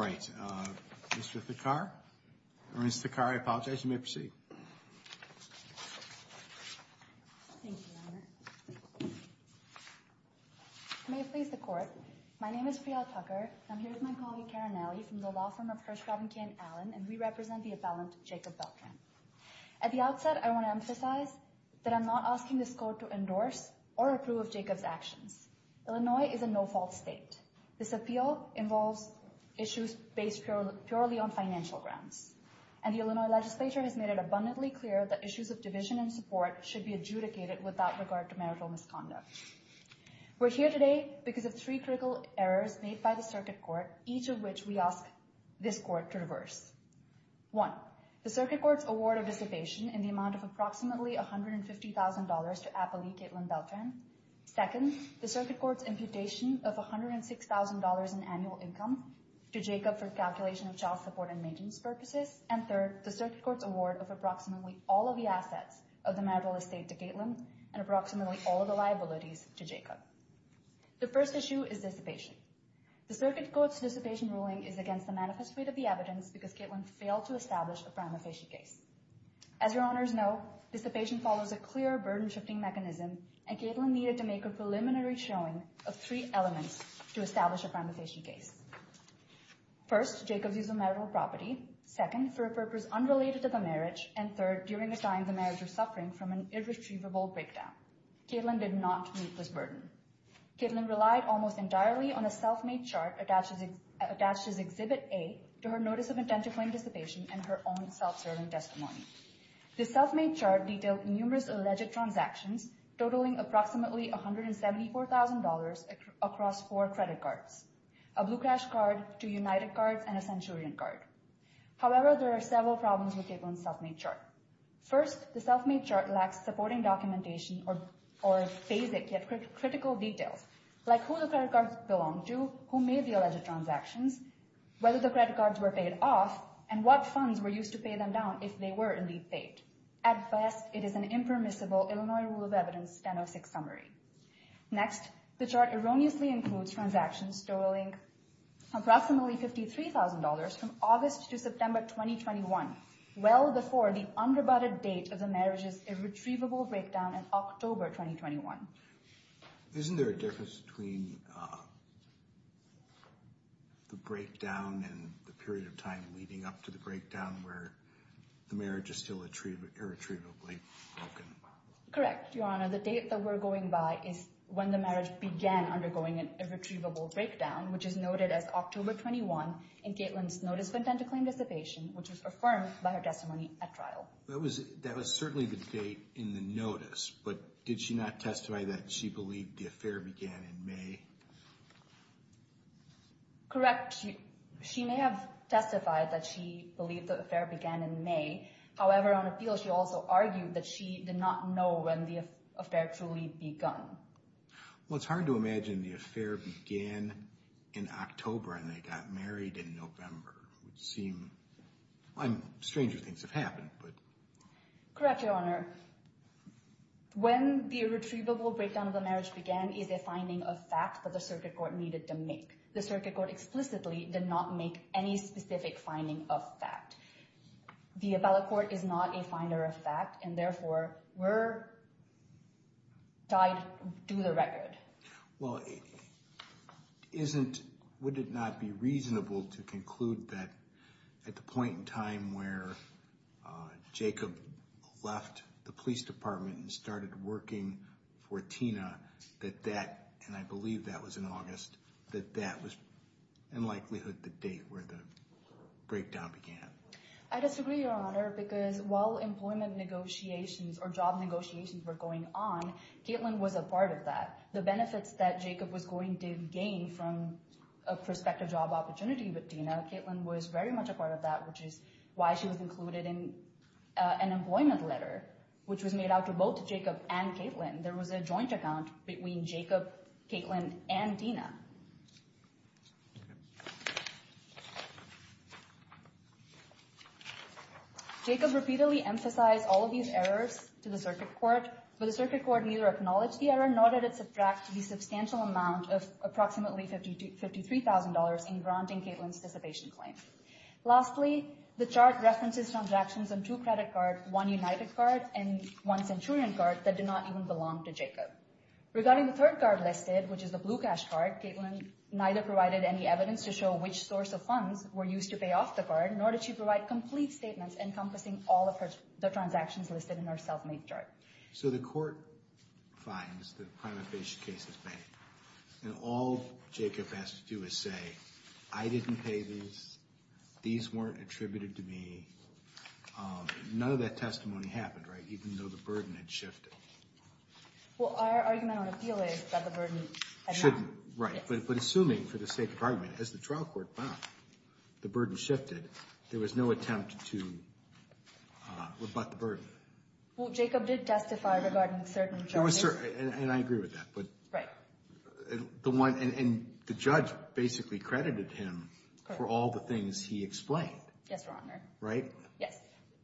All right, Mr. Thakkar, or Ms. Thakkar, I apologize, you may proceed. May it please the court, my name is Priyal Thakkar, I'm here with my colleague Karen Alley from the law firm of Hirsch Robinson and Allen, and we represent the appellant Jacob Beltran. At the outset, I want to emphasize that I'm not asking this court to endorse or approve of Jacob's actions. Illinois is a no-fault state. This appeal involves issues based purely on financial grounds, and the Illinois legislature has made it abundantly clear that issues of division and support should be adjudicated without regard to marital misconduct. We're here today because of three critical errors made by the circuit court, each of which we ask this court to reverse. One, the circuit court's award of dissipation in the amount of approximately $150,000 to appellee Caitlin Beltran. Second, the circuit court's imputation of $106,000 in annual income to Jacob for calculation of child support and maintenance purposes. And third, the circuit court's award of approximately all of the assets of the marital estate to Caitlin and approximately all of the liabilities to Jacob. The first issue is dissipation. The circuit court's dissipation ruling is against the manifest rate of the evidence because Caitlin failed to establish a prima facie case. As your honors know, dissipation follows a clear burden shifting mechanism, and Caitlin needed to make a preliminary showing of three elements to establish a prima facie case. First, Jacob's use of marital property. Second, for a purpose unrelated to the marriage, and third, during a time the marriage was suffering from an irretrievable breakdown. Caitlin did not meet this burden. Caitlin relied almost entirely on a self-made chart attached as Exhibit A to her Notice of Intent for Anticipation and her own self-serving testimony. The self-made chart detailed numerous alleged transactions totaling approximately $174,000 across four credit cards, a Blue Crash card, two United cards, and a Centurion card. However, there are several problems with Caitlin's self-made chart. First, the self-made chart lacks supporting documentation or basic yet critical details, like who the credit cards belong to, who made the alleged transactions, whether the credit cards were paid off, and what funds were used to pay them down if they were indeed paid. At best, it is an impermissible Illinois Rule of Evidence 1006 summary. Next, the chart erroneously includes transactions totaling approximately $53,000 from August to September 2021, well before the underbudgeted date of the marriage's irretrievable breakdown in October 2021. Isn't there a difference between the breakdown and the period of time leading up to the breakdown where the marriage is still irretrievably broken? Correct, Your Honor. The date that we're going by is when the marriage began undergoing an irretrievable breakdown, which is noted as October 21 in Caitlin's Notice of Intent to Claim Anticipation, which was affirmed by her testimony at trial. That was certainly the date in the notice, but did she not testify that she believed the affair began in May? Correct. She may have testified that she believed the affair began in May. However, on appeal, she also argued that she did not know when the affair truly begun. Well, it's hard to imagine the affair began in October and they got married in November. It would seem, I'm, stranger things have happened, but... Correct, Your Honor. When the irretrievable breakdown of the marriage began is a finding of fact that the circuit court needed to make. The circuit court explicitly did not make any specific finding of fact. The appellate court is not a finder of fact and therefore were tied to the record. Well, isn't, would it not be reasonable to conclude that at the point in time where Jacob left the police department and started working for Tina, that that, and I believe that was in August, that that was in likelihood the date where the breakdown began? I disagree, Your Honor, because while employment negotiations or job negotiations were going on, Caitlin was a part of that. The benefits that Jacob was going to gain from a prospective job opportunity with Tina, Caitlin was very much a part of that, which is why she was included in an employment letter, which was made out to both Jacob and Caitlin. There was a joint account between Jacob, Caitlin, and Tina. Jacob repeatedly emphasized all of these errors to the circuit court, but the circuit court neither acknowledged the error, nor did it subtract the substantial amount of approximately $53,000 in granting Caitlin's dissipation claim. Lastly, the chart references transactions on two credit cards, one United card and one Centurion card that did not even belong to Jacob. Regarding the third card listed, which is the blue cash card, Caitlin neither provided any evidence to show which source of funds were used to pay off the card, nor did she provide complete statements encompassing all of the transactions listed in her self-made chart. So the court finds that a prima facie case is banked, and all Jacob has to do is say, I didn't pay these, these weren't attributed to me, none of that testimony happened, right, even though the burden had shifted. Well, our argument on appeal is that the burden had not. Right, but assuming for the sake of argument, as the trial court found, the burden shifted, there was no attempt to rebut the burden. Well, Jacob did testify regarding certain charges. And I agree with that, but... Right. And the judge basically credited him for all the things he explained. Yes, Your Honor. Right? Yes.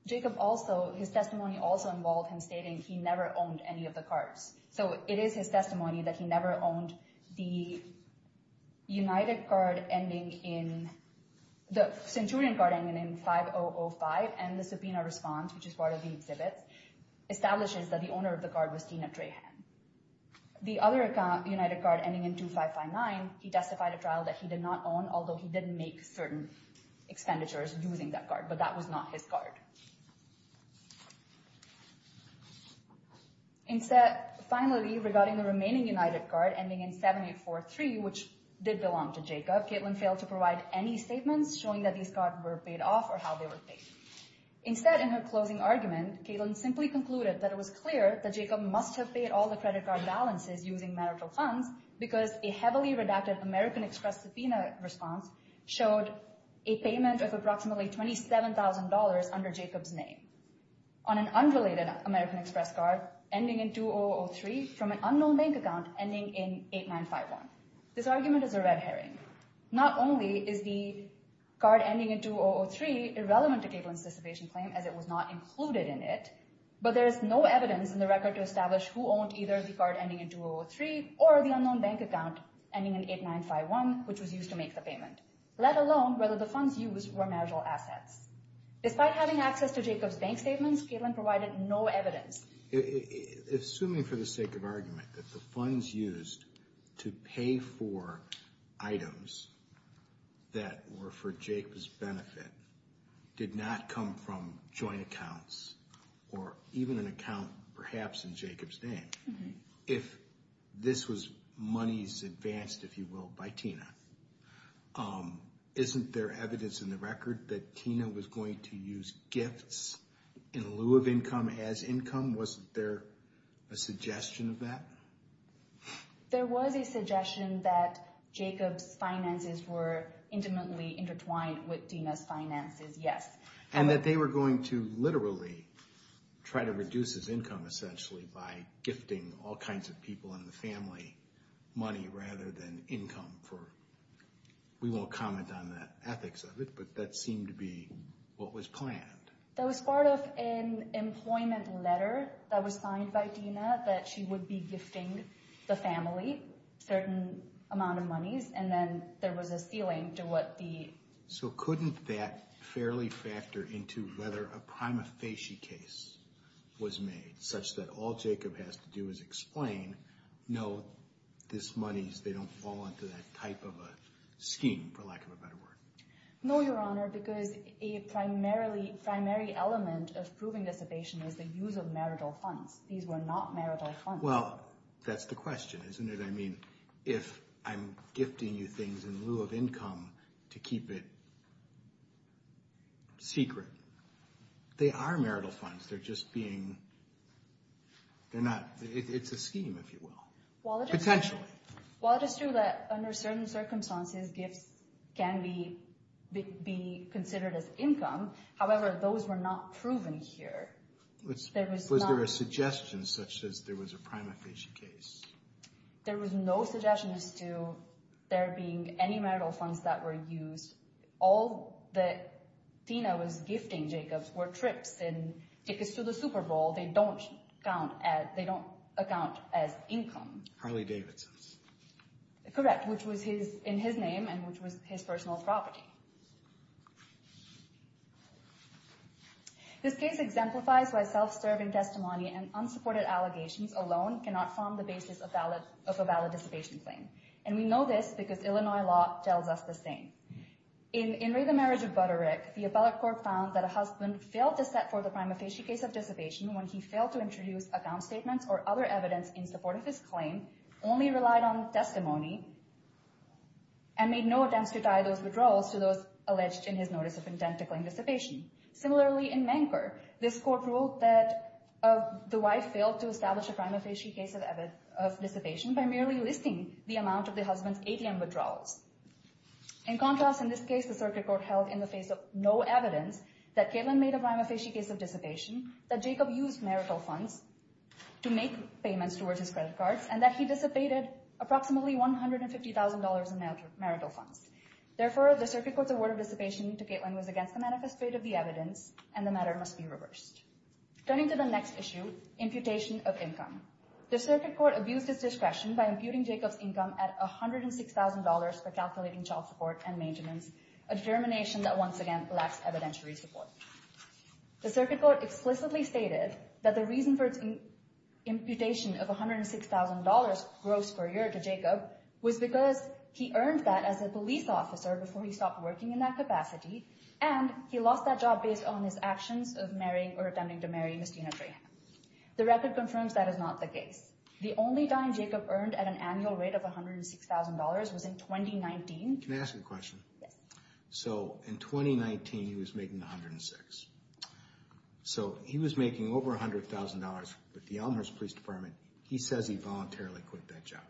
Jacob also, his testimony also involved him stating he never owned any of the cards. So it is his testimony that he never owned the United card ending in, the Centurion card ending in 5005, and the subpoena response, which is part of the exhibit, establishes that the owner of the card was Tina Trahan. The other United card ending in 2559, he testified at trial that he did not own, although he didn't make certain expenditures using that card, but that was not his card. Instead, finally, regarding the remaining United card ending in 7843, which did belong to Jacob, Kaitlin failed to provide any statements showing that these cards were paid off or how they were paid. Instead, in her closing argument, Kaitlin simply concluded that it was clear that Jacob must have paid all the credit card balances using marital funds because a heavily redacted American Express subpoena response showed a payment of approximately $27,000 under Jacob's name. On an unrelated American Express card ending in 2003 from an unknown bank account ending in 8951. This argument is a red herring. Not only is the card ending in 2003 irrelevant to Kaitlin's dissipation claim as it was not included in it, but there's no evidence in the record to establish who owned either the card ending in 2003 or the unknown bank account ending in 8951, which was used to make the payment, let alone whether the funds used were marital assets. Despite having access to Jacob's bank statements, Kaitlin provided no evidence. Assuming for the sake of argument that the funds used to pay for items that were for Jacob's benefit did not come from joint accounts or even an account perhaps in Jacob's If this was monies advanced, if you will, by Tina, isn't there evidence in the record that Tina was going to use gifts in lieu of income as income? Wasn't there a suggestion of that? There was a suggestion that Jacob's finances were intimately intertwined with Tina's finances, yes. And that they were going to literally try to reduce his income essentially by gifting all kinds of people in the family money rather than income. We won't comment on the ethics of it, but that seemed to be what was planned. That was part of an employment letter that was signed by Tina that she would be gifting the family certain amount of monies and then there was a ceiling to what the... So couldn't that fairly factor into whether a prima facie case was made such that all Jacob has to do is explain, no, this monies, they don't fall into that type of a scheme, for lack of a better word. No, Your Honor, because a primary element of proving this evasion is the use of marital funds. These were not marital funds. Well, that's the question, isn't it? I mean, if I'm gifting you things in lieu of income to keep it secret, they are marital funds. They're just being... They're not... It's a scheme, if you will, potentially. Well, it is true that under certain circumstances, gifts can be considered as income. However, those were not proven here. Was there a suggestion such as there was a prima facie case? There was no suggestion as to there being any marital funds that were used. All that Tina was gifting Jacob were trips and tickets to the Super Bowl. They don't count as... They don't account as income. Harley Davidson's. Correct, which was in his name and which was his personal property. This case exemplifies why self-serving testimony and unsupported allegations alone cannot form the basis of a valid dissipation claim. And we know this because Illinois law tells us the same. In In Re, the Marriage of Butterick, the appellate court found that a husband failed to set for the prima facie case of dissipation when he failed to introduce account statements or other evidence in support of his claim, only relied on testimony, and made no attempts to tie those withdrawals to those alleged in his notice of intent to claim dissipation. Similarly, in Manker, this court ruled that the wife failed to establish a prima facie case of dissipation by merely listing the amount of the husband's ATM withdrawals. In contrast, in this case, the circuit court held in the face of no evidence that Caitlin made a prima facie case of dissipation, that Jacob used marital funds to make payments towards his credit cards, and that he dissipated approximately $150,000 in marital funds. Therefore, the circuit court's award of dissipation to Caitlin was against the manifest rate of the evidence, and the matter must be reversed. Turning to the next issue, imputation of income. The circuit court abused its discretion by imputing Jacob's income at $106,000 for calculating child support and maintenance, a determination that once again lacks evidentiary support. The circuit court explicitly stated that the reason for its imputation of $106,000 gross per year to Jacob was because he earned that as a police officer before he stopped working in that capacity, and he lost that job based on his actions of marrying or attempting to marry Ms. Tina Trahan. The record confirms that is not the case. The only dime Jacob earned at an annual rate of $106,000 was in 2019. Can I ask you a question? Yes. So, in 2019, he was making $106,000. So, he was making over $100,000, but the Elmhurst Police Department, he says he voluntarily quit that job.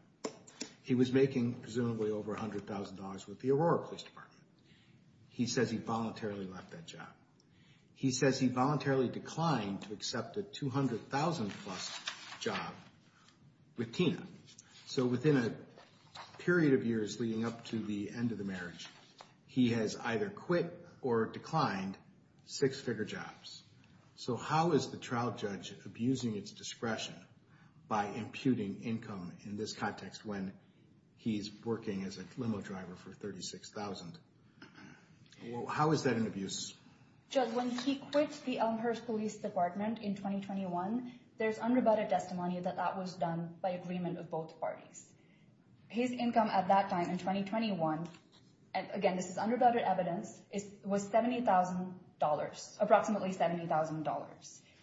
He was making presumably over $100,000 with the Aurora Police Department. He says he voluntarily left that job. He says he voluntarily declined to accept a $200,000 plus job with Tina. So, within a period of years leading up to the end of the marriage, he has either quit or declined six-figure jobs. So, how is the trial judge abusing its discretion by imputing income in this context when he's working as a limo driver for $36,000? How is that an abuse? Judge, when he quit the Elmhurst Police Department in 2021, there's undervoted testimony that that was done by agreement of both parties. His income at that time in 2021, and again, this is undervoted evidence, was $70,000,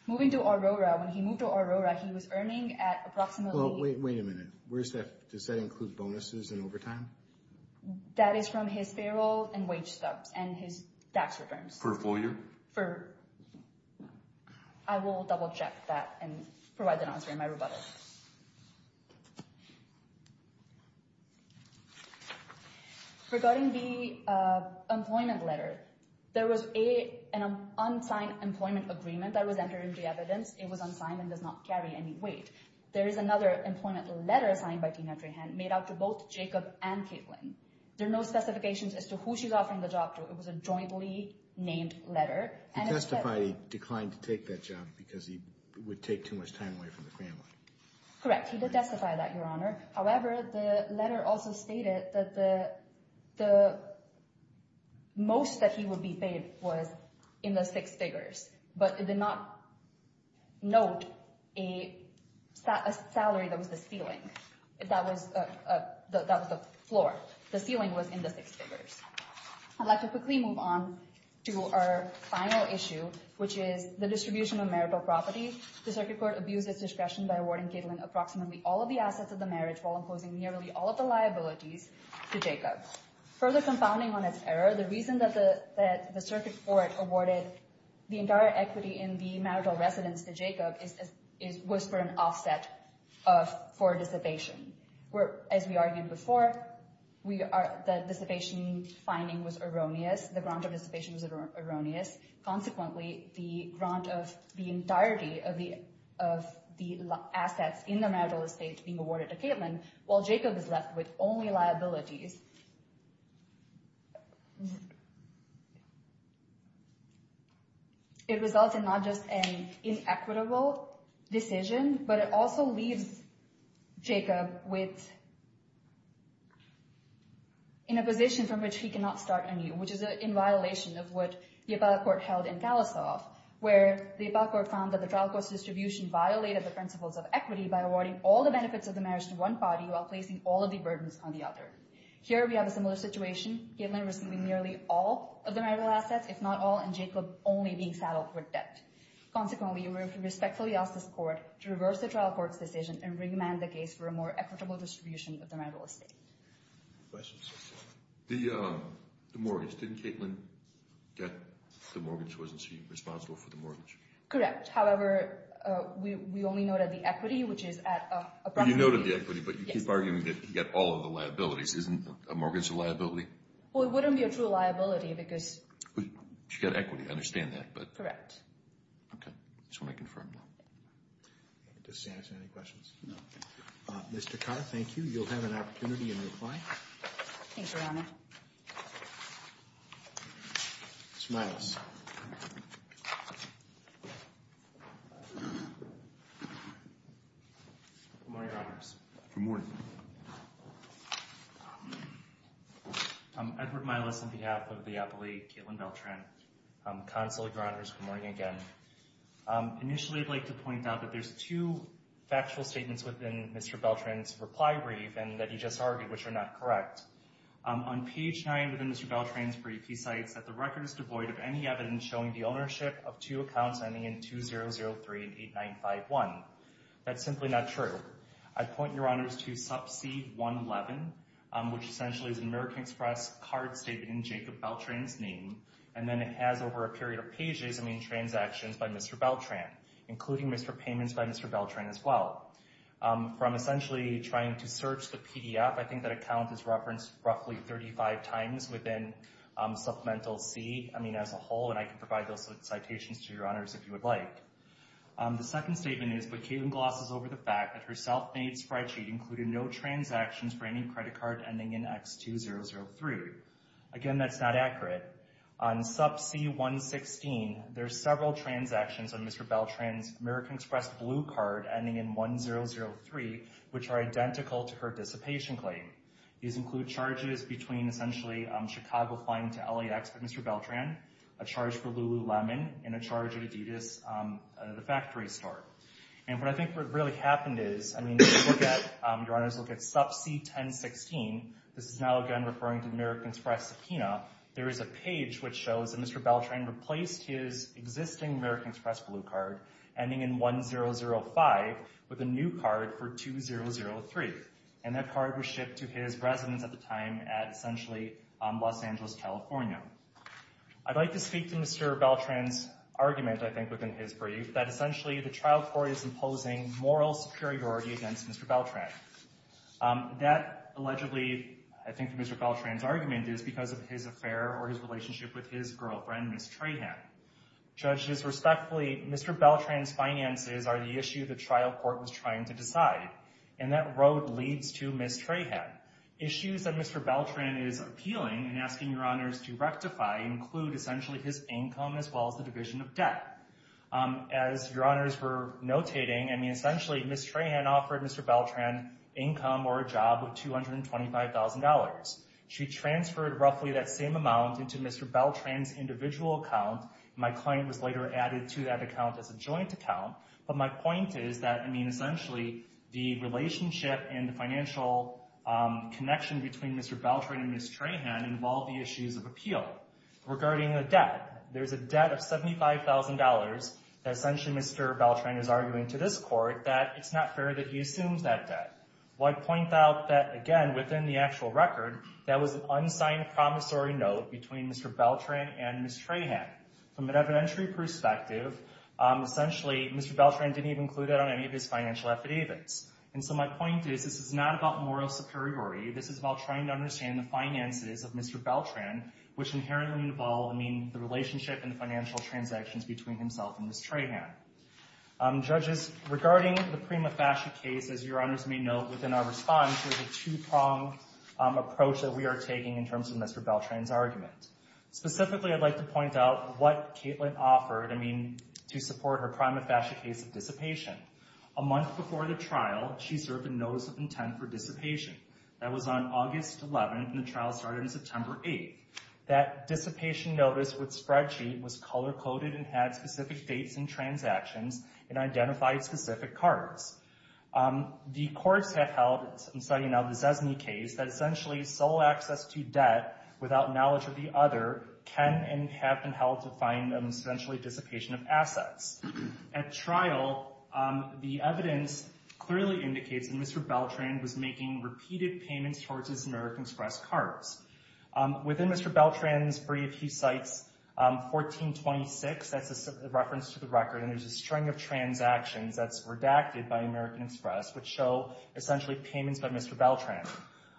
moving to Aurora. When he moved to Aurora, he was earning at approximately... Well, wait a minute. Where's that? Does that include bonuses and overtime? That is from his payroll and wage stubs and his tax returns. For a full year? For... I will double check that and provide an answer in my rebuttal. Regarding the employment letter, there was an unsigned employment agreement that was entered into the evidence. It was unsigned and does not carry any weight. There is another employment letter signed by Tina Trahan made out to both Jacob and Caitlin. There are no specifications as to who she's offering the job to. It was a jointly named letter. He testified he declined to take that job because he would take too much time away from the family. Correct. He did testify that, Your Honor. However, the letter also stated that the most that he would be paid was in the six figures, but it did not note a salary that was the ceiling. That was the floor. The ceiling was in the six figures. I'd like to quickly move on to our final issue, which is the distribution of marital property. The circuit court abused its discretion by awarding Caitlin approximately all of the assets of the marriage while imposing nearly all of the liabilities to Jacob. Further confounding on its error, the reason that the circuit court awarded the entire equity in the marital residence to Jacob was for an offset for dissipation. As we argued before, the dissipation finding was erroneous. The grant of dissipation was erroneous. Consequently, the grant of the entirety of the assets in the marital estate being awarded to Caitlin while Jacob is left with only liabilities. It results in not just an inequitable decision, but it also leaves Jacob with a position from which he cannot start anew, which is in violation of what the appellate court held in Kalasov, where the appellate court found that the trial court's distribution violated the principles of equity by awarding all the benefits of the marriage to one party while placing all of the burdens on the other. Here, we have a similar situation. Caitlin received nearly all of the marital assets, if not all, and Jacob only being saddled with debt. Consequently, we respectfully ask this court to reverse the trial court's decision and recommend the case for a more equitable distribution of the marital estate. The mortgage. Didn't Caitlin get the mortgage? Wasn't she responsible for the mortgage? Correct. However, we only noted the equity, which is at approximately... You noted the equity, but you keep arguing that you get all of the liabilities. Isn't a mortgage a liability? Well, it wouldn't be a true liability because... She got equity. I understand that, but... Correct. Okay. I just want to confirm that. Does she have any questions? No. Mr. Carr, thank you. You'll have an opportunity in reply. Thanks, Your Honor. Mr. Miles. Good morning, Your Honors. Good morning. I'm Edward Miles on behalf of the appellee, Caitlin Beltran. Counsel, Your Honors, good morning again. Initially, I'd like to point out that there's two factual statements within Mr. Beltran's reply brief and that he just argued, which are not correct. On page 9 within Mr. Beltran's brief, he cites that the record is devoid of any evidence showing the ownership of two accounts ending in 2003 and 8951. That's simply not true. I'd point, Your Honors, to sub C111, which essentially is an American Express card statement in Jacob Beltran's name, and then it has over a period of pages, I mean, transactions by Mr. Beltran, including Mr. Payments by Mr. Beltran as well. From essentially trying to search the PDF, I think that account is referenced roughly 35 times within supplemental C, I mean, as a whole, and I can provide those citations to Your Honors if you would like. The second statement is, but Caitlin glosses over the fact that her self-made spreadsheet included no transactions for any credit card ending in X2003. Again, that's not accurate. On sub C116, there's several transactions on Mr. Beltran's American Express blue card ending in 1003, which are identical to her dissipation claim. These include charges between essentially Chicago Flying to LAX by Mr. Beltran, a charge for Lululemon, and a charge at Adidas, the factory store. And what I think really happened is, I mean, if you look at, Your Honors, look at sub C1016, this is now again referring to the American Express subpoena, there is a page which shows that Mr. Beltran replaced his existing American Express blue card ending in 1005 with a new card for 2003, and that card was shipped to his residence at the time at essentially Los Angeles, California. I'd like to speak to Mr. Beltran's argument, I think, within his brief, that essentially the trial court is imposing moral superiority against Mr. Beltran. That allegedly, I think, Mr. Beltran's argument is because of his affair or his relationship with his girlfriend, Ms. Trahan. Judges, respectfully, Mr. Beltran's finances are the issue the trial court was trying to decide, and that road leads to Ms. Trahan. Issues that Mr. Beltran is appealing and asking Your Honors to rectify include essentially his income as well as the division of debt. As Your Honors were notating, I mean, essentially Ms. Trahan offered Mr. Beltran income or a job of $225,000. She transferred roughly that same amount into Mr. Beltran's individual account. My client was later added to that account as a joint account, but my point is that, I mean, essentially the relationship and the financial connection between Mr. Beltran and Ms. Trahan involve the issues of appeal. Regarding the debt, there's a debt of $75,000 that essentially Mr. Beltran is arguing to this court that it's not fair that he assumes that debt. I'd point out that, again, within the actual record, that was an unsigned promissory note between Mr. Beltran and Ms. Trahan. From an evidentiary perspective, essentially Mr. Beltran didn't even include that on any of his financial affidavits. And so my point is, this is not about moral superiority. This is about trying to understand the finances of Mr. Beltran, which inherently involve, I mean, the relationship and the financial transactions between himself and Ms. Trahan. Judges, regarding the prima facie case, as Your Honors may note within our response, there's a two-pronged approach that we are taking in terms of Mr. Beltran's argument. Specifically, I'd like to point out what Caitlin offered, I mean, to support her prima facie case dissipation. A month before the trial, she served a notice of intent for dissipation. That was on August 11th, and the trial started on September 8th. That dissipation notice with spreadsheet was color-coded and had specific dates and transactions and identified specific cards. The courts have held, I'm citing now the Zesny case, that essentially sole access to debt without knowledge of the other can and have been held to find them essentially dissipation of assets. At trial, the evidence clearly indicates that Mr. Beltran was making repeated payments towards his American Express cards. Within Mr. Beltran's brief, he cites 1426, that's a reference to the record, and there's a string of transactions that's redacted by American Express which show essentially payments by Mr. Beltran.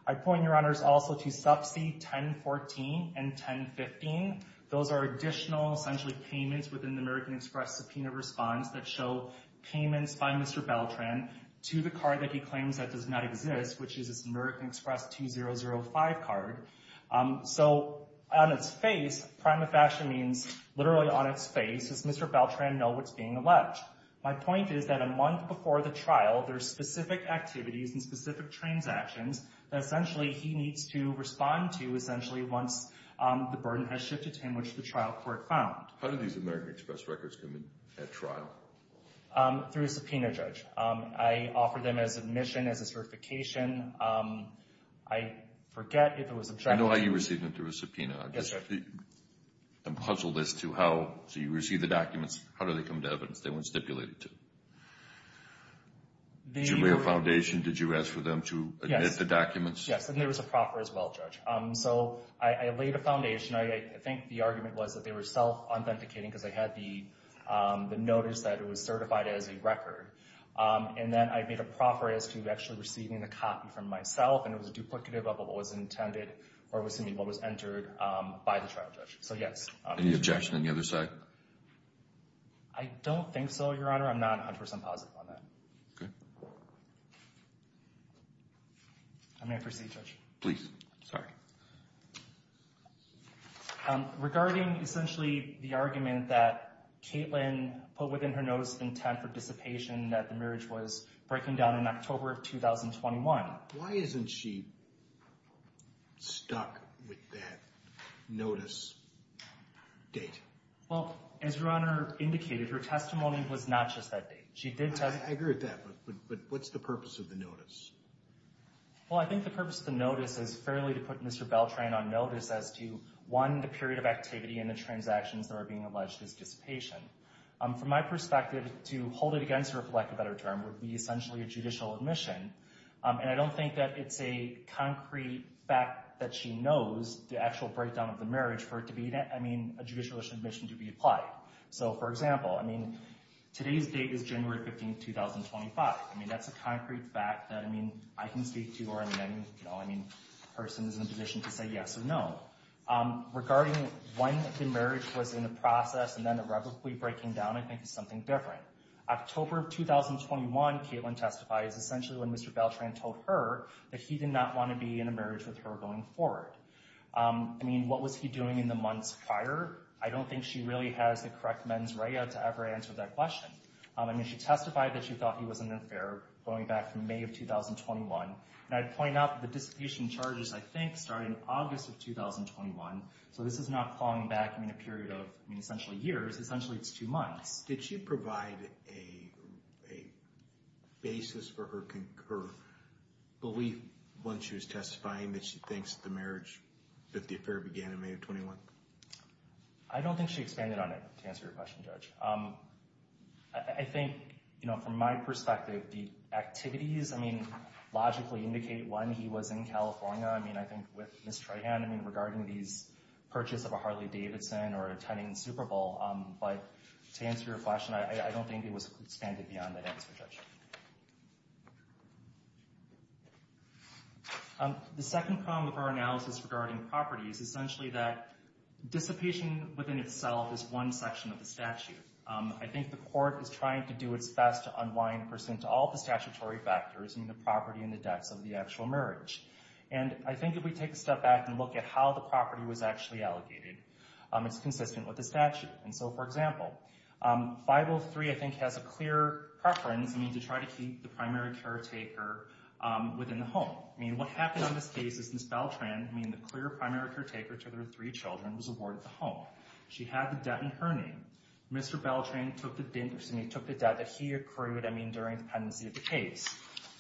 I point your honors also to subsea 1014 and 1015. Those are additional essentially payments within the American Express subpoena response that show payments by Mr. Beltran to the card that he claims that does not exist, which is his American Express 2005 card. So on its face, prima facie means literally on its face, does Mr. Beltran know what's being alleged? My point is that a month before the trial, there's specific activities and specific transactions that essentially he needs to respond to essentially once the burden has shifted to him, which the trial court found. How did these American Express records come in at trial? Through a subpoena judge. I offer them as admission, as a certification. I forget if it was objective. I know how you received them through a subpoena. I'm puzzled as to how, so you receive the documents, how do they come to evidence they were stipulated to? Did you lay a foundation? Did you ask for them to admit the documents? Yes, and there was a proffer as well, Judge. So I laid a foundation. I think the argument was that they were self-authenticating because they had the notice that it was certified as a record. And then I made a proffer as to actually receiving the copy from myself and it was a duplicative of what was intended or was what was entered by the trial judge. So yes. Any objection on the other side? I don't think so, Your Honor. I'm not 100% positive on that. Okay. I may proceed, Judge. Please. Sorry. Regarding essentially the argument that Caitlin put within her notice of intent for dissipation that the marriage was breaking down in October of 2021. Why isn't she stuck with that notice date? Well, as Your Honor indicated, her testimony was not just that date. I agree with that, but what's the purpose of the notice? Well, I think the purpose of the notice is fairly to put Mr. Beltran on notice as to, one, the period of activity and the transactions that were being alleged as dissipation. From my perspective, to hold it against her for lack of a better term would be essentially a judicial admission. And I don't think that it's a concrete fact that she knows the actual breakdown of the marriage for it to be, I mean, a judicial admission to be applied. So for example, I mean, today's date is January 15th, 2025. I mean, that's a concrete fact that, I mean, I can speak to or I mean, you know, I mean, a person is in a position to say yes or no. Regarding when the marriage was in the process and then irrevocably breaking down, I think it's something different. October of 2021, Caitlin testified, is essentially when Mr. Beltran told her that he did not want to be in a marriage with her going forward. I mean, what was he doing in the months prior? I don't think she really has the correct mens rea to ever answer that question. I mean, she testified that she thought he was an affair going back from May of 2021. And I'd point out that the dissipation charges, I think, started in August of 2021. So this is not falling back, I mean, a period of, I mean, essentially years, essentially it's two months. Did she provide a basis for her belief when she was testifying that she thinks the marriage, that the affair began in May of 21? I don't think she expanded on it to answer your question, Judge. I think, you know, from my perspective, the activities, I mean, logically indicate when he was in California. I mean, I think with Ms. Trahan, I mean, regarding these purchase of a Harley-Davidson or attending the Super Bowl. But to answer your question, I don't think it was expanded beyond that answer, Judge. The second problem with our analysis regarding property is essentially that dissipation within itself is one section of the statute. I think the court is trying to do its best to unwind a person to all the statutory factors, I mean, the property and the debts of the actual marriage. And I think if we take a step back and look at how the property was actually allocated, it's consistent with the statute. And so, for example, 503, I think, has a clear preference, I mean, to try to keep the primary caretaker within the home. I mean, what happened on this case is Ms. Beltran, I mean, the clear primary caretaker to their three children was awarded the home. She had the debt in her name. Mr. Beltran took the debt that he accrued, I mean, during the pendency of the case.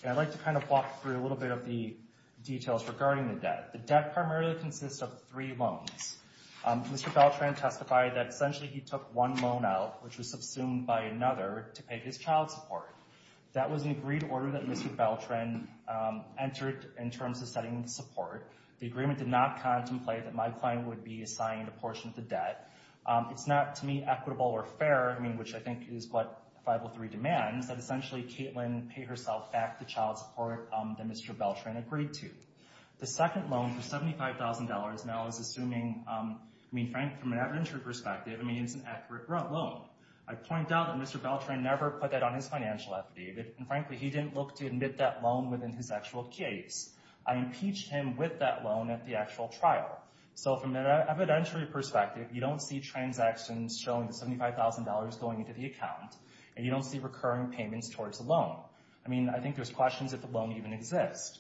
And I'd like to kind of walk through a little bit of the details regarding the debt. The debt primarily consists of three loans. Mr. Beltran testified that essentially he took one loan out, which was subsumed by another, to pay his child support. That was an agreed order that Mr. Beltran entered in terms of setting the support. The agreement did not contemplate that my client would be assigned a portion of the debt. It's not, to me, equitable or fair, I mean, which I think is what 503 demands, that essentially Caitlin pay herself back the child support that Mr. Beltran agreed to. The second loan for $75,000 now is assuming, I mean, Frank, from an evidentiary perspective, I mean, it's an accurate loan. I point out that Mr. Beltran never put that on his financial affidavit, and frankly, he didn't look to admit that loan within his actual case. I impeached him with that loan at the actual trial. So, from an evidentiary perspective, you don't see transactions showing the $75,000 going into the account, and you don't see recurring payments towards the loan. I mean, I think there's questions if the loan even exists.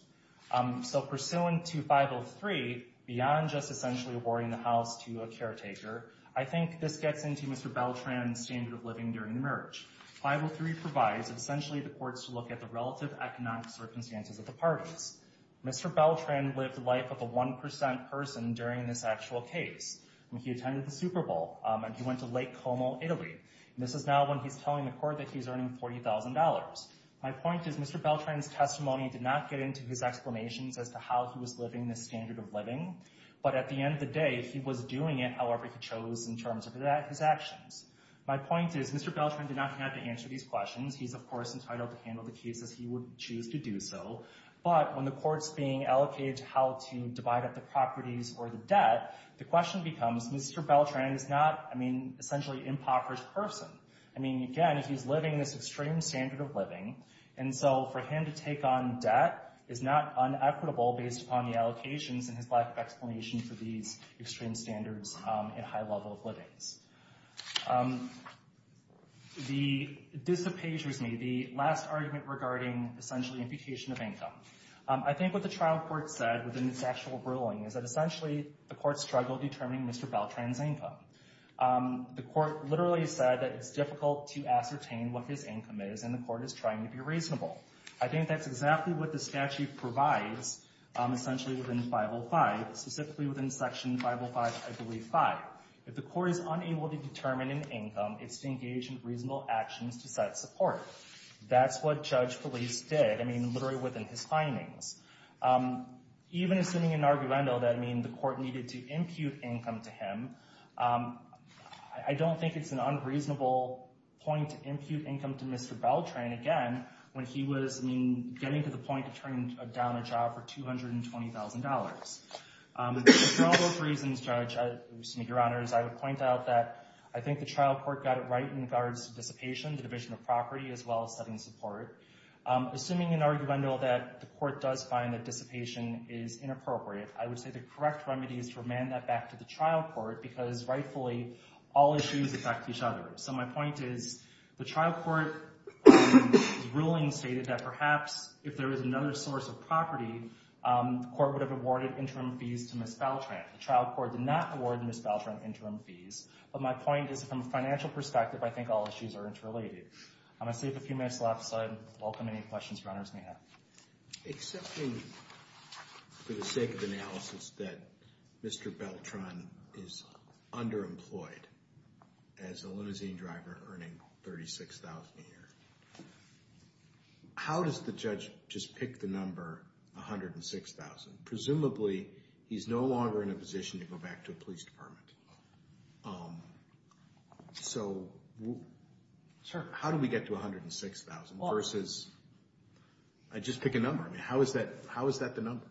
So, pursuant to 503, beyond just essentially awarding the house to a caretaker, I think this gets into Mr. Beltran's standard of living during the merge. 503 provides essentially the courts to look at the relative economic circumstances of the parties. Mr. Beltran lived the life of a 1% person during this actual case. I mean, he attended the Super Bowl, and he went to Lake Como, Italy, and this is now when he's telling the court that he's earning $40,000. My point is Mr. Beltran's testimony did not get into his explanations as to how he was living this standard of living, but at the end of the day, he was doing it however he chose in terms of his actions. My point is Mr. Beltran did not have to answer these questions. He's, of course, entitled to handle the cases he would choose to do so, but when the court's being allocated how to divide up the properties or the debt, the question becomes, Mr. Beltran is not, I mean, essentially an impoverished person. I mean, again, he's living this extreme standard of living, and so for him to take on debt is not unequitable based upon the allocations and his lack of explanation for these extreme standards and high level of livings. This appages me, the last argument regarding essentially imputation of income. I think what the trial court said within its actual ruling is that essentially the court struggled determining Mr. Beltran's income. The court literally said that it's difficult to ascertain what his income is, and the court is trying to be reasonable. I think that's exactly what the statute provides essentially within 505, specifically within section 505, I believe 5. If the court is unable to determine an income, it's to engage in reasonable actions to set support. That's what Judge Felice did, I mean, literally within his findings. Even assuming in argumento that, I mean, the court needed to impute income to him, I don't think it's an unreasonable point to impute income to Mr. Beltran, again, when he was, I mean, getting to the point of turning down a trial for $220,000. For all those reasons, Judge, I just need your honors, I would point out that I think the trial court got it right in regards to dissipation, the division of property, as well as setting support. Assuming in argumento that the court does find that dissipation is inappropriate, I would say the correct remedy is to remand that back to the trial court because rightfully all issues affect each other. So my point is the trial court ruling stated that perhaps if there was another source of property, the court would have awarded interim fees to Ms. Beltran. The trial court did not Ms. Beltran interim fees, but my point is from a financial perspective, I think all issues are interrelated. I'm going to save a few minutes left, so I welcome any questions your honors may have. Accepting for the sake of analysis that Mr. Beltran is underemployed as a limousine driver earning $36,000 a year, how does the judge just pick the number $106,000? Presumably, he's no longer in a position to go back to the police department. So how do we get to $106,000 versus, I just pick a number. How is that the number?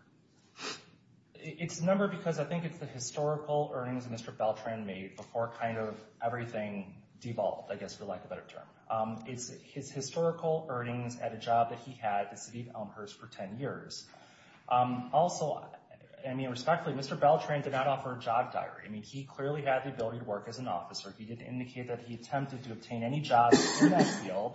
It's a number because I think it's the historical earnings Mr. Beltran made before kind of everything devolved, I guess for lack of a better term. It's his historical earnings at a job that he had at the city of Elmhurst for 10 years. Also, I mean respectfully, Mr. Beltran did not offer a job diary. I mean, he clearly had the ability to work as an officer. He did indicate that he attempted to obtain any jobs in that field.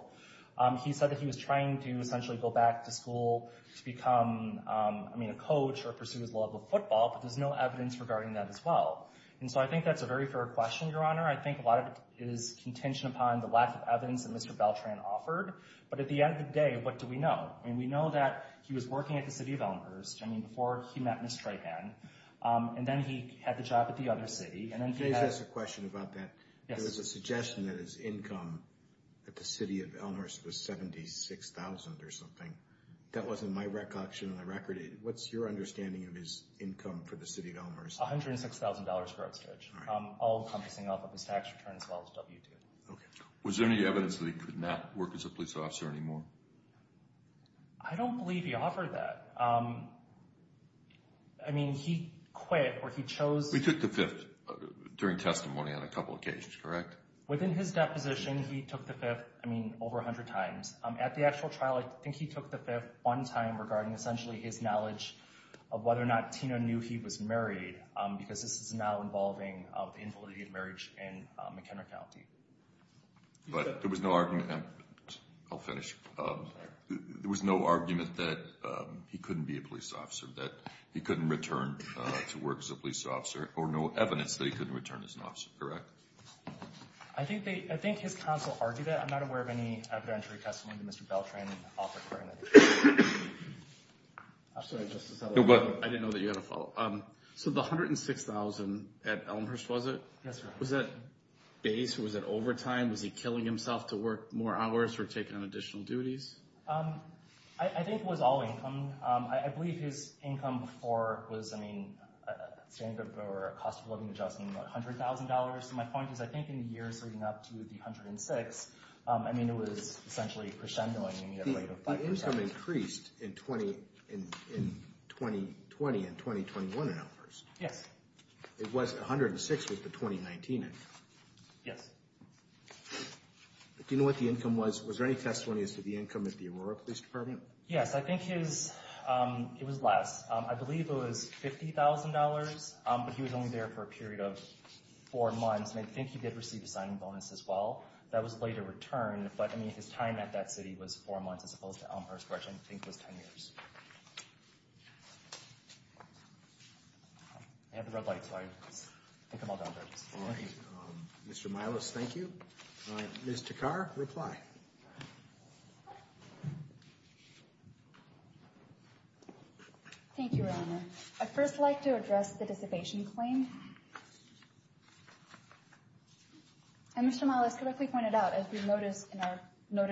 He said that he was trying to essentially go back to school to become, I mean, a coach or pursue his love of football, but there's no evidence regarding that as well. And so I think that's a very fair question, your honor. I think a lot of it is contingent upon the lack of evidence that Mr. Beltran offered, but at the end of the day, we know. I mean, we know that he was working at the city of Elmhurst. I mean, before he met Ms. Treypan, and then he had the job at the other city, and then he had... Jay has a question about that. There's a suggestion that his income at the city of Elmhurst was $76,000 or something. That wasn't my recollection on the record. What's your understanding of his income for the city of Elmhurst? $106,000 grossage, all encompassing of his tax return as well as W-2. Okay. Was there any evidence that he could not work as a police officer anymore? I don't believe he offered that. I mean, he quit or he chose... He took the fifth during testimony on a couple of occasions, correct? Within his deposition, he took the fifth, I mean, over 100 times. At the actual trial, I think he took the fifth one time regarding essentially his knowledge of whether or not Tina knew he was married, because this is now involving the invalidity of marriage in McKenna County. But there was no argument... I'll finish. There was no argument that he couldn't be a police officer, that he couldn't return to work as a police officer, or no evidence that he couldn't return as an officer, correct? I think his counsel argued that. I'm not aware of any evidentiary testimony that Mr. Beltran and Arthur Corwin had. I'm sorry, Justice Elwood. No, go ahead. I didn't know that you had a follow-up. So the $106,000 at Elmhurst, was it? Yes, sir. Was that base? Was it overtime? Was he killing himself to work more hours or take on additional duties? I think it was all income. I believe his income before was, I mean, a cost of living adjustment of $100,000. So my point is, I think in the years leading up to the 106, I mean, it was essentially crescendoing. The income increased in 2020 and 2021 at Elmhurst. Yes. It was, $106,000 was the 2019 income. Yes. But do you know what the income was? Was there any testimony as to the income at the Aurora Police Department? Yes, I think his, it was less. I believe it was $50,000, but he was only there for a period of four months. And I think he did receive a signing bonus as well. That was a later return, but I mean, his time at that city was four months as opposed to Elmhurst, which I think was 10 years. I have the red light, so I think I'm all done. All right. Mr. Milas, thank you. Ms. Takar, reply. Thank you, Your Honor. I'd first like to address the dissipation claim. And Mr. Milas, correctly pointed out, as we noted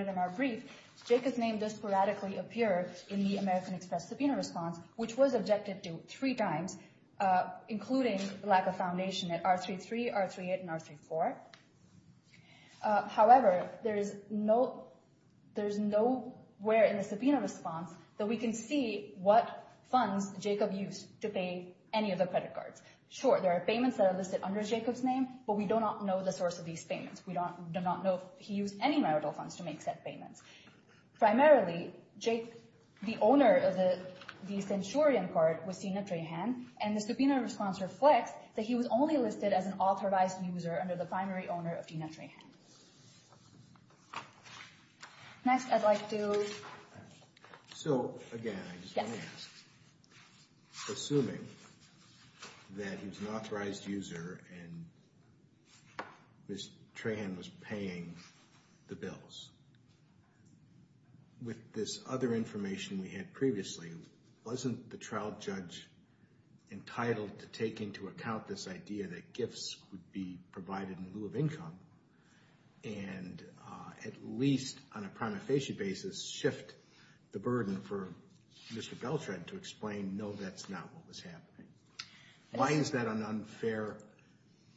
in our brief, Jake's name does radically appear in the American Express subpoena response, which was objected to three times, including lack of foundation at R33, R38, and R34. However, there's nowhere in the subpoena response that we can see what funds Jacob used to pay any of the credit cards. Sure, there are payments that are listed under Jacob's name, but we do not know the source of these payments. We do not know if he used any funds to make said payments. Primarily, the owner of the centurion part was Tina Trahan, and the subpoena response reflects that he was only listed as an authorized user under the primary owner of Tina Trahan. Next, I'd like to... So, again, I just want to ask, assuming that he was an authorized user and Ms. Trahan was paying the bills, with this other information we had previously, wasn't the trial judge entitled to take into account this idea that gifts would be provided in lieu of income and at least on a prima facie basis shift the burden for Mr. Beltran to explain, no, that's not what was happening? Why is that an unfair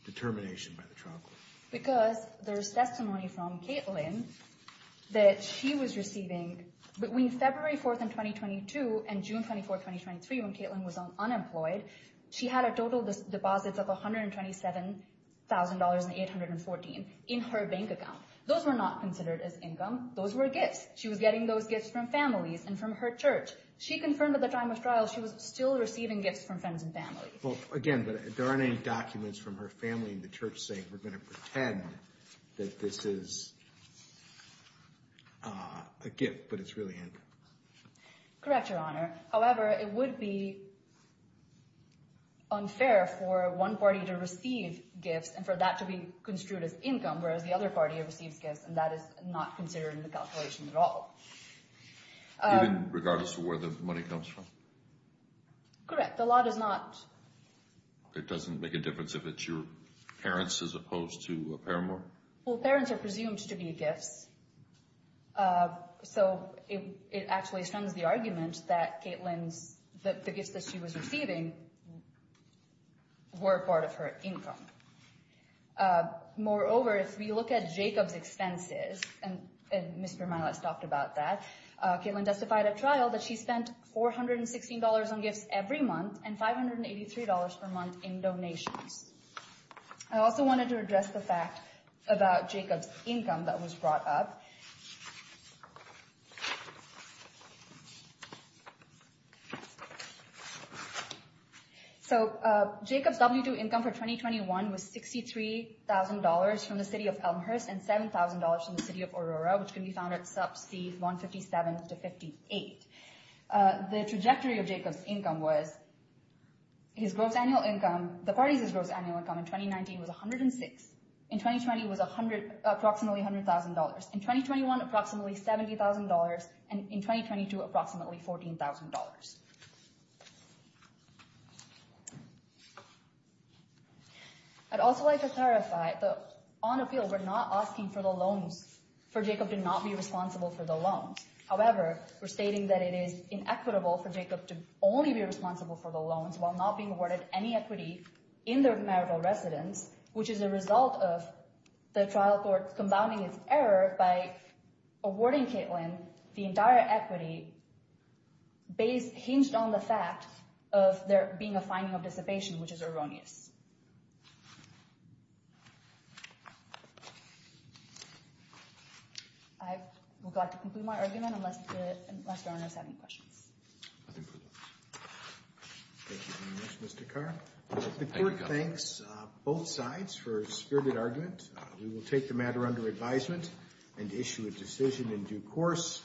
determination by the trial court? Because there's testimony from Caitlin that she was receiving between February 4th in 2022 and June 24th, 2023, when Caitlin was unemployed, she had a total deposits of $127,814 in her bank account. Those were not considered as income. Those were gifts. She was getting those gifts from families and from her church. She confirmed at the time of trial she was still receiving gifts from friends and family. Well, again, but there aren't any documents from her family in the church saying we're going to pretend that this is a gift, but it's really income. Correct, Your Honor. However, it would be unfair for one party to receive gifts and for that to be construed as income, whereas the other party receives gifts and that is not considered in the calculation at all. Even regardless of where the money comes from? Correct. The law does not... It doesn't make a difference if it's your parents as opposed to a paramour? Well, parents are presumed to be gifts, so it actually strengthens the argument that Caitlin's, that the gifts that she was receiving were part of her income. Moreover, if we look at Jacob's expenses, and Mr. Milas talked about that, Caitlin testified at trial that she spent $416 on gifts every month and $583 per month in donations. I also wanted to address the fact about Jacob's income that was brought up. So, Jacob's W-2 income for 2021 was $63,000 from the city of Elmhurst and $7,000 from the city of Aurora, which can be found at sub-C 157 to 58. The trajectory of Jacob's income was his gross annual income, the party's gross annual income in 2019 was $106, in 2020 was approximately $100,000, in 2021, approximately $70,000, and in 2022, approximately $14,000. I'd also like to clarify that on appeal, we're not asking for the loans, for Jacob to not be responsible for the loans. However, we're stating that it is inequitable for Jacob to only be responsible for the loans while not being awarded any equity in their marital residence, which is a result of the trial court compounding its error by awarding Caitlin the entire equity hinged on the fact of there being a finding of dissipation, which is erroneous. I would like to conclude my argument unless the owners have any questions. Thank you very much, Mr. Carr. The court thanks both sides for a spirited argument. We will take the matter under advisement and issue a decision in due course.